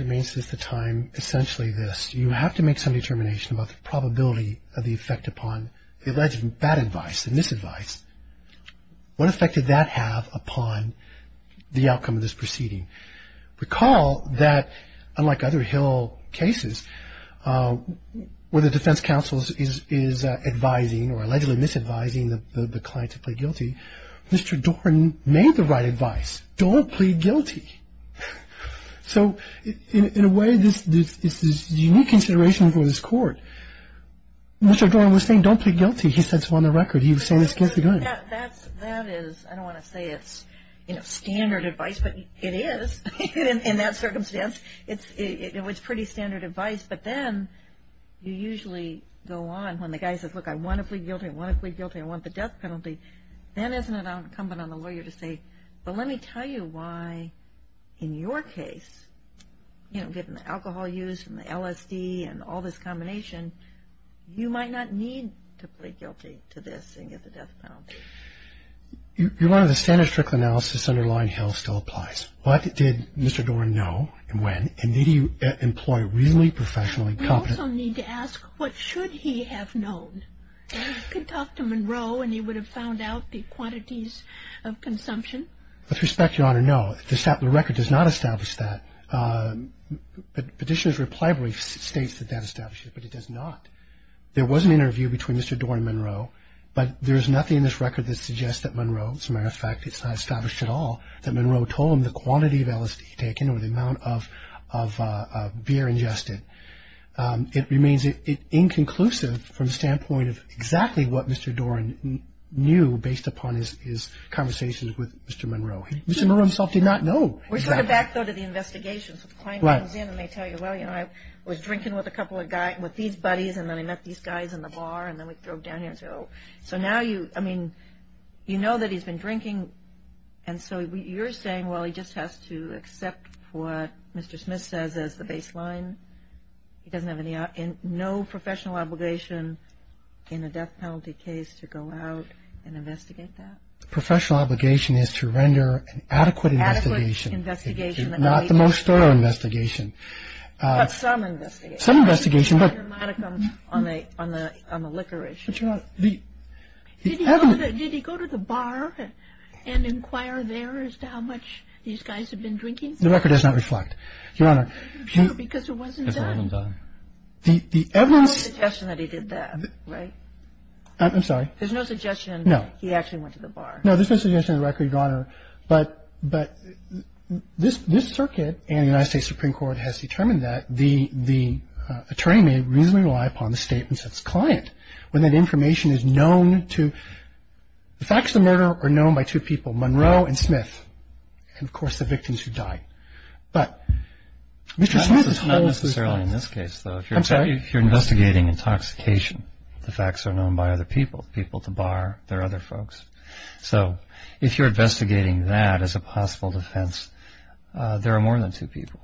remained since the time, essentially, this. You have to make some determination about the probability of the effect upon the alleged bad advice, the misadvice. What effect did that have upon the outcome of this proceeding? Recall that, unlike other Hill cases, where the defense counsel is advising or allegedly misadvising the client to plead guilty, Mr. Doran made the right advice, don't plead guilty. So in a way, this is unique consideration for this court. Mr. Doran was saying, don't plead guilty. He said so on the record. He was saying this against the grain. That is, I don't want to say it's standard advice, but it is in that circumstance. It's pretty standard advice, but then you usually go on when the guy says, look, I want to plead guilty, I want to plead guilty, I want the death penalty. Then isn't it incumbent on the lawyer to say, well, let me tell you why in your case, you know, given the alcohol use and the LSD and all this combination, you might not need to plead guilty to this and get the death penalty. You wanted a standard, strict analysis underlying Hill still applies. What did Mr. Doran know and when? And did he employ a reasonably professionally competent lawyer? We also need to ask, what should he have known? He could talk to Monroe and he would have found out the quantities of consumption. With respect, Your Honor, no. The record does not establish that. Petitioner's reply brief states that that establishes it, but it does not. There was an interview between Mr. Doran and Monroe, that Monroe told him the quantity of LSD he had taken or the amount of beer ingested. It remains inconclusive from the standpoint of exactly what Mr. Doran knew based upon his conversations with Mr. Monroe. Mr. Monroe himself did not know. We're going to back, though, to the investigations. The client comes in and they tell you, well, you know, I was drinking with a couple of guys, with these buddies, and then I met these guys in the bar, and then we drove down here. So now you, I mean, you know that he's been drinking, and so you're saying, well, he just has to accept what Mr. Smith says as the baseline? He doesn't have any, no professional obligation in a death penalty case to go out and investigate that? Professional obligation is to render an adequate investigation. Adequate investigation. Not the most thorough investigation. But some investigation. Some investigation. On the liquor issue. Did he go to the bar and inquire there as to how much these guys had been drinking? The record does not reflect, Your Honor. Because it wasn't done. There's no suggestion that he did that, right? I'm sorry? There's no suggestion he actually went to the bar. No, there's no suggestion in the record, Your Honor. But this circuit and the United States Supreme Court has determined that the attorney may reasonably rely upon the statements of his client when that information is known to, the facts of the murder are known by two people, Monroe and Smith. And, of course, the victims who died. But Mr. Smith is told. Not necessarily in this case, though. I'm sorry? If you're investigating intoxication, the facts are known by other people, people at the bar, their other folks. So if you're investigating that as a possible defense, there are more than two people.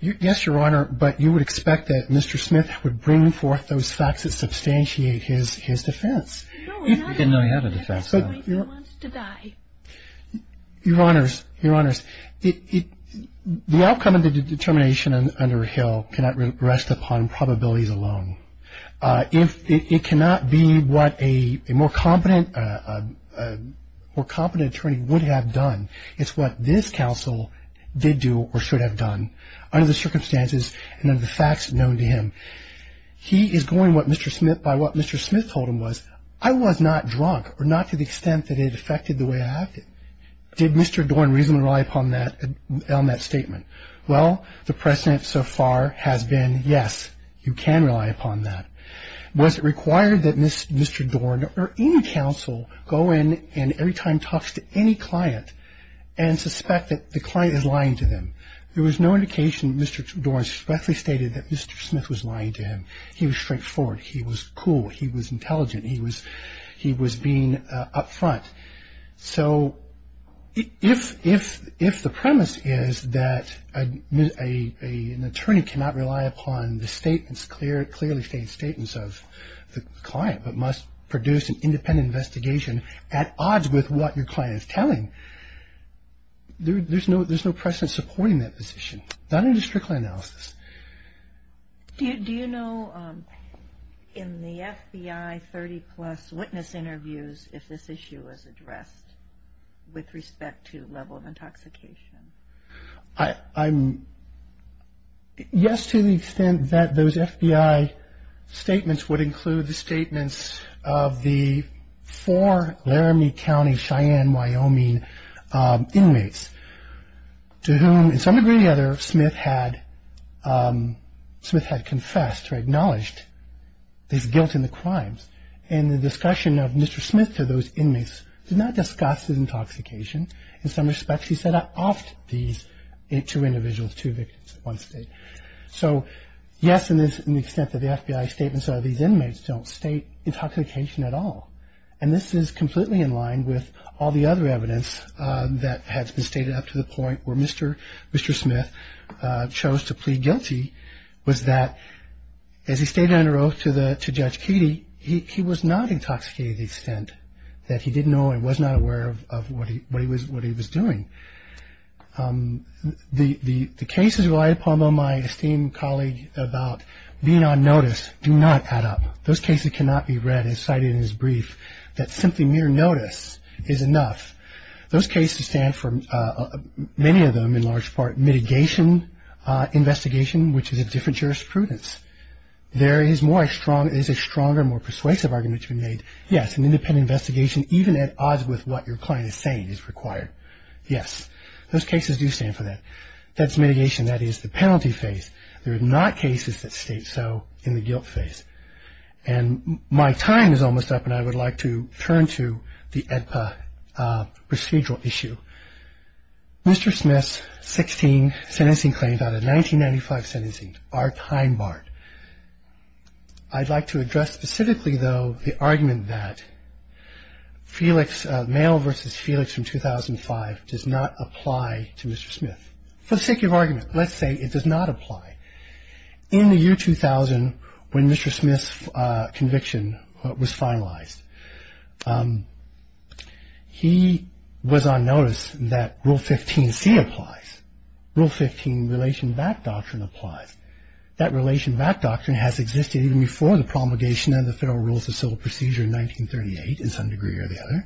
Yes, Your Honor. But you would expect that Mr. Smith would bring forth those facts that substantiate his defense. He didn't know he had a defense, though. Your Honors, Your Honors, the outcome of the determination under Hill cannot rest upon probabilities alone. It cannot be what a more competent attorney would have done. It's what this counsel did do or should have done under the circumstances and under the facts known to him. He is going by what Mr. Smith told him was, I was not drunk or not to the extent that it affected the way I acted. Did Mr. Dorn reasonably rely upon that statement? Well, the precedent so far has been, yes, you can rely upon that. Was it required that Mr. Dorn or any counsel go in and every time talks to any client and suspect that the client is lying to them? There was no indication that Mr. Dorn swiftly stated that Mr. Smith was lying to him. He was straightforward. He was cool. He was intelligent. He was being up front. So if the premise is that an attorney cannot rely upon the statements, clearly stated statements of the client but must produce an independent investigation at odds with what your client is telling, there's no precedent supporting that position. Not in a strictly analysis. Do you know in the FBI 30-plus witness interviews if this issue was addressed with respect to level of intoxication? Yes, to the extent that those FBI statements would include the statements of the four Laramie County Cheyenne, Wyoming inmates to whom, to some degree or the other, Smith had confessed or acknowledged his guilt in the crimes. And the discussion of Mr. Smith to those inmates did not discuss his intoxication. In some respects, he said, I offed these two individuals, two victims at one state. So, yes, in the extent that the FBI statements of these inmates don't state intoxication at all. And this is completely in line with all the other evidence that has been stated up to the point where Mr. Smith chose to plead guilty was that as he stated under oath to Judge Keedy, he was not intoxicated to the extent that he did know and was not aware of what he was doing. The cases relied upon by my esteemed colleague about being on notice do not add up. Those cases cannot be read as cited in his brief that simply mere notice is enough. Those cases stand for, many of them in large part, mitigation investigation, which is a different jurisprudence. There is a stronger, more persuasive argument to be made. Yes, an independent investigation, even at odds with what your client is saying, is required. Yes, those cases do stand for that. That's mitigation. That is the penalty phase. There are not cases that state so in the guilt phase. And my time is almost up, and I would like to turn to the AEDPA procedural issue. Mr. Smith's 16 sentencing claims out of 1995 sentencing are time-barred. I'd like to address specifically, though, the argument that Felix, mail versus Felix from 2005 does not apply to Mr. Smith. For the sake of argument, let's say it does not apply. In the year 2000, when Mr. Smith's conviction was finalized, he was on notice that Rule 15C applies. Rule 15 relation back doctrine applies. That relation back doctrine has existed even before the promulgation of the Federal Rules of Civil Procedure in 1938, in some degree or the other.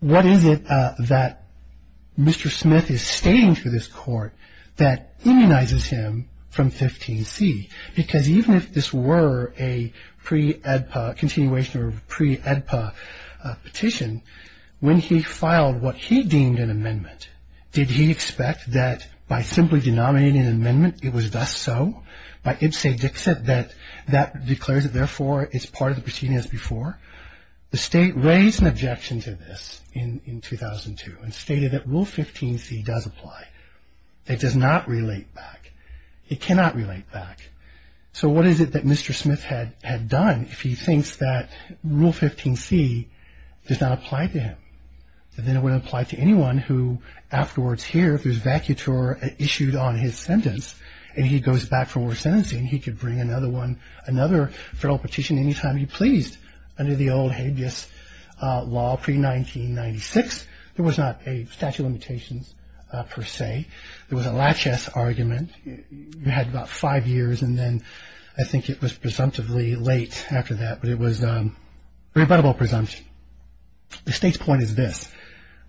What is it that Mr. Smith is stating through this Court that immunizes him from 15C? Because even if this were a pre-AEDPA continuation or pre-AEDPA petition, when he filed what he deemed an amendment, did he expect that by simply denominating an amendment, it was thus so, by ibse dixit, that that declares it therefore is part of the proceeding as before? The State raised an objection to this in 2002 and stated that Rule 15C does apply. It does not relate back. It cannot relate back. So what is it that Mr. Smith had done if he thinks that Rule 15C does not apply to him? That then it would apply to anyone who afterwards here, if there's vacuture issued on his sentence, and he goes back for more sentencing, he could bring another one, another federal petition any time he pleased under the old habeas law pre-1996. There was not a statute of limitations per se. There was a laches argument. You had about five years, and then I think it was presumptively late after that, but it was a rebuttable presumption. The State's point is this.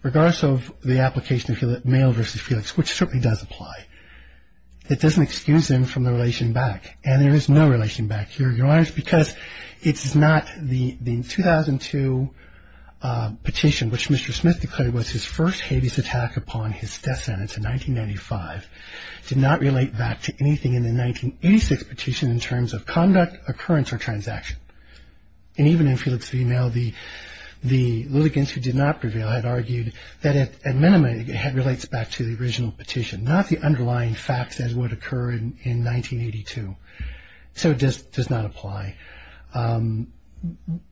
Regardless of the application of mail versus Felix, which certainly does apply, it doesn't excuse him from the relation back. And there is no relation back here, Your Honors, because it's not the 2002 petition, which Mr. Smith declared was his first habeas attack upon his death sentence in 1995, did not relate back to anything in the 1986 petition in terms of conduct, occurrence, or transaction. And even in Felix v. Mail, the litigants who did not prevail had argued that at minimum it relates back to the original petition, not the underlying facts as would occur in 1982. So it does not apply.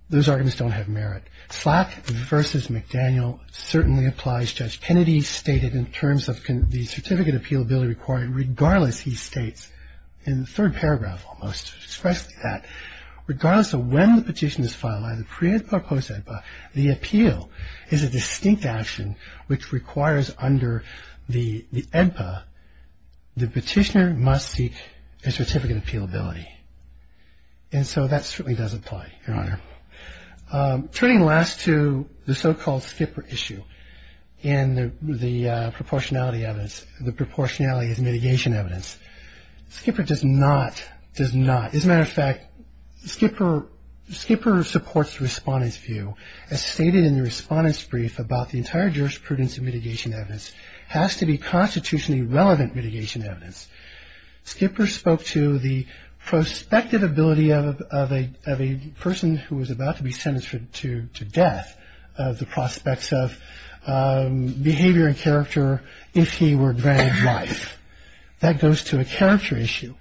Those arguments don't have merit. Slack v. McDaniel certainly applies. Judge Kennedy stated in terms of the certificate appealability requirement, regardless, he states in the third paragraph almost, expressed that regardless of when the petition is filed, whether pre-EDPA or post-EDPA, the appeal is a distinct action which requires under the EDPA, the petitioner must seek a certificate of appealability. And so that certainly does apply, Your Honor. Turning last to the so-called skipper issue and the proportionality evidence, the proportionality is mitigation evidence. Skipper does not, does not. Skipper supports the respondent's view as stated in the respondent's brief about the entire jurisprudence of mitigation evidence has to be constitutionally relevant mitigation evidence. Skipper spoke to the prospective ability of a person who was about to be sentenced to death, the prospects of behavior and character if he were granted life. That goes to a character issue.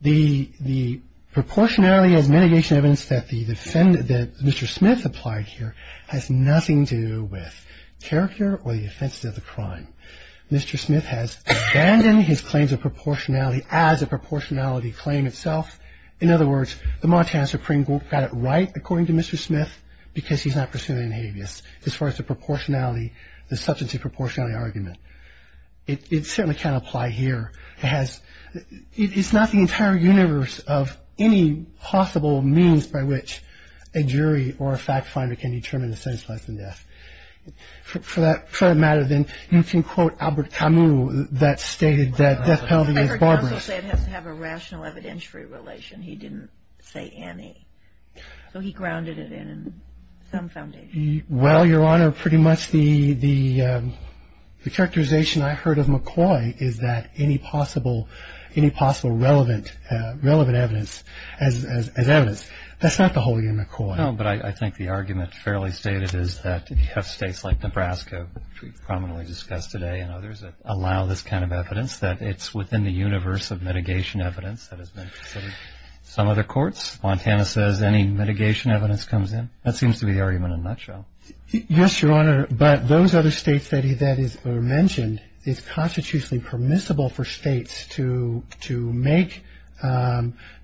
The proportionality as mitigation evidence that the defendant, that Mr. Smith applied here, has nothing to do with character or the offenses of the crime. Mr. Smith has abandoned his claims of proportionality as a proportionality claim itself. In other words, the Montana Supreme Court got it right, according to Mr. Smith, because he's not pursuing an habeas as far as the proportionality, the substantive proportionality argument. It certainly can't apply here. It has, it's not the entire universe of any possible means by which a jury or a fact finder can determine the sentence of life and death. For that matter, then, you can quote Albert Camus that stated that death penalty is barbarous. I heard counsel say it has to have a rational evidentiary relation. He didn't say any. So he grounded it in some foundation. Well, Your Honor, pretty much the characterization I heard of McCoy is that any possible, any possible relevant evidence as evidence. That's not the whole of your McCoy. No, but I think the argument fairly stated is that if you have states like Nebraska, which we prominently discussed today, and others that allow this kind of evidence, that it's within the universe of mitigation evidence that has been considered. Some other courts, Montana says any mitigation evidence comes in. That seems to be the argument in a nutshell. Yes, Your Honor. But those other states that are mentioned, it's constitutionally permissible for states to make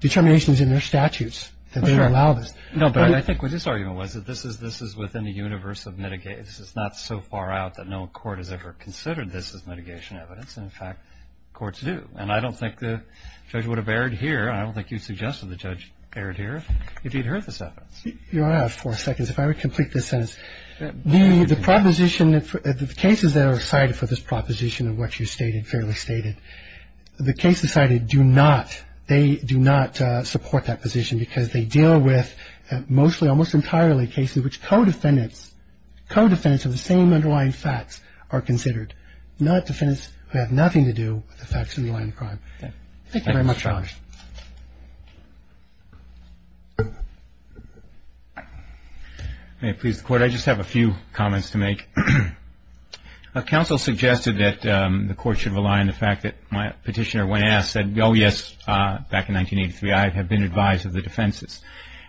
determinations in their statutes that they allow this. No, but I think what his argument was that this is within the universe of mitigation. It's not so far out that no court has ever considered this as mitigation evidence. In fact, courts do. And I don't think the judge would have erred here, and I don't think you suggested the judge erred here, if he'd heard this evidence. Your Honor, I have four seconds. If I would complete this sentence. The proposition, the cases that are cited for this proposition of what you stated, fairly stated, the cases cited do not, they do not support that position because they deal with mostly almost entirely cases which co-defendants, co-defendants of the same underlying facts are considered, not defendants who have nothing to do with the facts underlying the crime. Thank you very much, Your Honor. May it please the Court. I just have a few comments to make. Counsel suggested that the Court should rely on the fact that my petitioner, when asked, said, oh, yes, back in 1983, I have been advised of the defenses.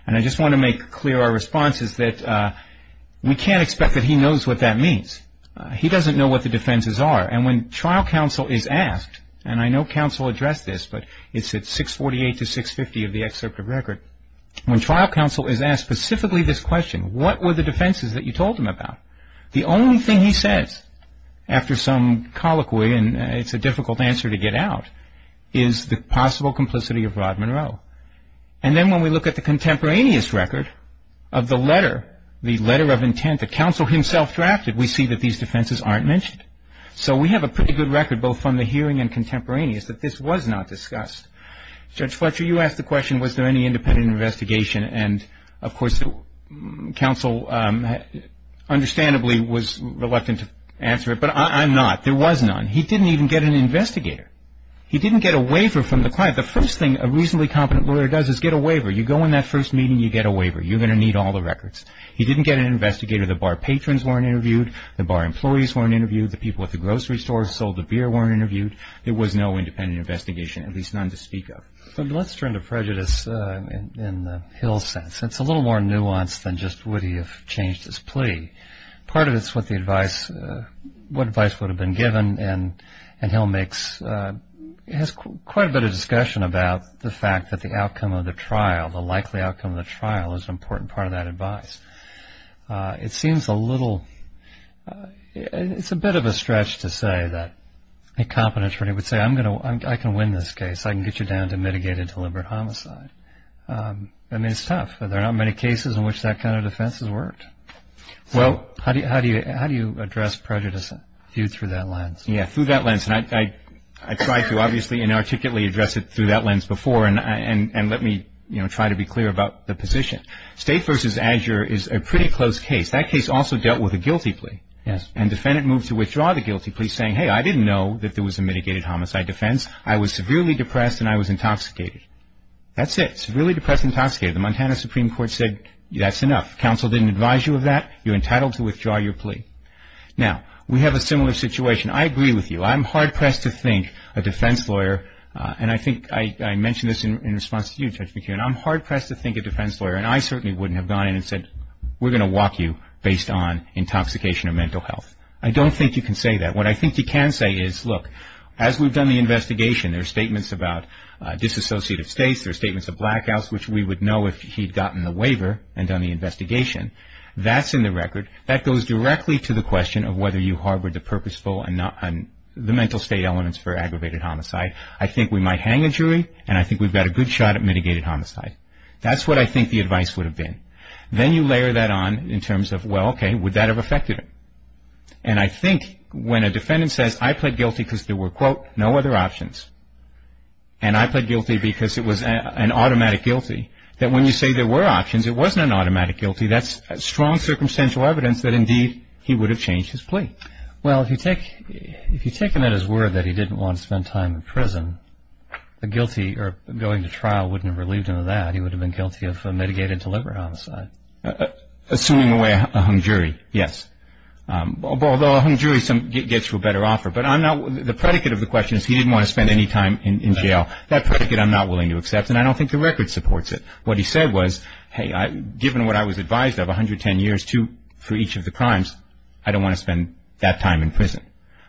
And I just want to make clear our response is that we can't expect that he knows what that means. He doesn't know what the defenses are. And when trial counsel is asked, and I know counsel addressed this, but it's at 648 to 650 of the excerpt of record. When trial counsel is asked specifically this question, what were the defenses that you told him about, the only thing he says after some colloquy, and it's a difficult answer to get out, is the possible complicity of Rod Monroe. And then when we look at the contemporaneous record of the letter, the letter of intent, the counsel himself drafted, we see that these defenses aren't mentioned. So we have a pretty good record, both from the hearing and contemporaneous, that this was not discussed. Judge Fletcher, you asked the question, was there any independent investigation? And, of course, counsel understandably was reluctant to answer it, but I'm not. There was none. He didn't even get an investigator. He didn't get a waiver from the client. The first thing a reasonably competent lawyer does is get a waiver. You go in that first meeting, you get a waiver. You're going to need all the records. He didn't get an investigator. The bar patrons weren't interviewed. The bar employees weren't interviewed. The people at the grocery store sold the beer weren't interviewed. There was no independent investigation, at least none to speak of. Let's turn to prejudice in Hill's sense. It's a little more nuanced than just would he have changed his plea. Part of it is what advice would have been given, and Hill has quite a bit of discussion about the fact that the outcome of the trial, the likely outcome of the trial, is an important part of that advice. It seems a little – it's a bit of a stretch to say that a competent attorney would say, I can win this case. I can get you down to mitigated deliberate homicide. I mean, it's tough. There are not many cases in which that kind of defense has worked. How do you address prejudice viewed through that lens? Yeah, through that lens. I tried to, obviously, inarticulately address it through that lens before, and let me try to be clear about the position. State v. Azure is a pretty close case. That case also dealt with a guilty plea, and defendant moved to withdraw the guilty plea saying, hey, I didn't know that there was a mitigated homicide defense. I was severely depressed and I was intoxicated. That's it, severely depressed and intoxicated. The Montana Supreme Court said that's enough. Counsel didn't advise you of that. You're entitled to withdraw your plea. Now, we have a similar situation. I agree with you. I'm hard-pressed to think a defense lawyer, and I think I mentioned this in response to you, Judge McKeon, I'm hard-pressed to think a defense lawyer, and I certainly wouldn't have gone in and said, we're going to walk you based on intoxication or mental health. I don't think you can say that. What I think you can say is, look, as we've done the investigation, there are statements about disassociative states, there are statements of blackouts, which we would know if he'd gotten the waiver and done the investigation. That's in the record. That goes directly to the question of whether you harbored the purposeful and the mental state elements for aggravated homicide. I think we might hang a jury, and I think we've got a good shot at mitigated homicide. That's what I think the advice would have been. Then you layer that on in terms of, well, okay, would that have affected him? And I think when a defendant says, I pled guilty because there were, quote, no other options, and I pled guilty because it was an automatic guilty, that when you say there were options, it wasn't an automatic guilty, Well, if you take him at his word that he didn't want to spend time in prison, going to trial wouldn't have relieved him of that. He would have been guilty of mitigated deliberate homicide. Assuming away a hung jury, yes. Although a hung jury gets you a better offer. But the predicate of the question is he didn't want to spend any time in jail. That predicate I'm not willing to accept, and I don't think the record supports it. What he said was, hey, given what I was advised of, for each of the crimes, I don't want to spend that time in prison.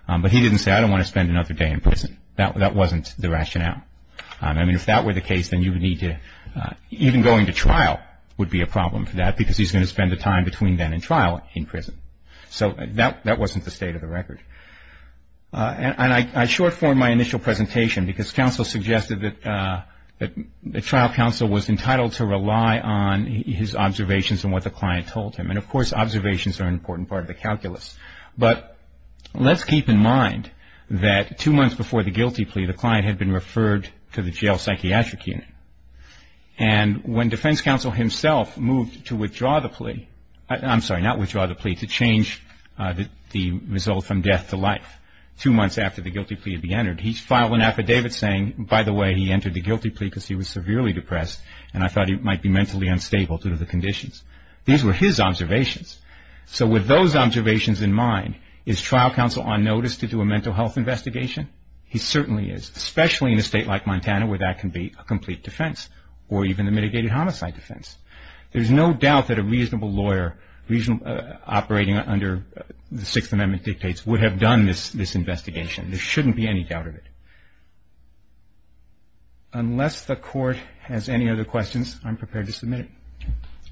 But he didn't say, I don't want to spend another day in prison. That wasn't the rationale. I mean, if that were the case, then you would need to, even going to trial would be a problem for that because he's going to spend the time between then and trial in prison. So that wasn't the state of the record. And I short form my initial presentation because counsel suggested that the trial counsel was entitled to rely on his observations and what the client told him. And, of course, observations are an important part of the calculus. But let's keep in mind that two months before the guilty plea, the client had been referred to the jail psychiatric unit. And when defense counsel himself moved to withdraw the plea, I'm sorry, not withdraw the plea, to change the result from death to life, two months after the guilty plea had been entered, he filed an affidavit saying, by the way, he entered the guilty plea because he was severely depressed and I thought he might be mentally unstable due to the conditions. These were his observations. So with those observations in mind, is trial counsel on notice to do a mental health investigation? He certainly is, especially in a state like Montana where that can be a complete defense or even a mitigated homicide defense. There's no doubt that a reasonable lawyer operating under the Sixth Amendment dictates would have done this investigation. There shouldn't be any doubt of it. Unless the Court has any other questions, I'm prepared to submit it.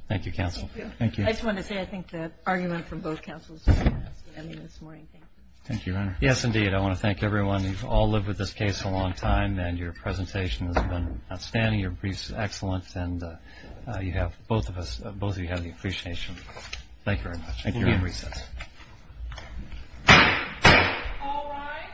Thank you, counsel. Thank you. I just wanted to say I think the argument from both counsels is going to end this morning. Thank you. Thank you, Your Honor. Yes, indeed. I want to thank everyone. You've all lived with this case a long time, and your presentation has been outstanding. Your briefs are excellent, and you have both of us, both of you have the appreciation. Thank you very much. Thank you, Your Honor. We'll be at recess. All rise.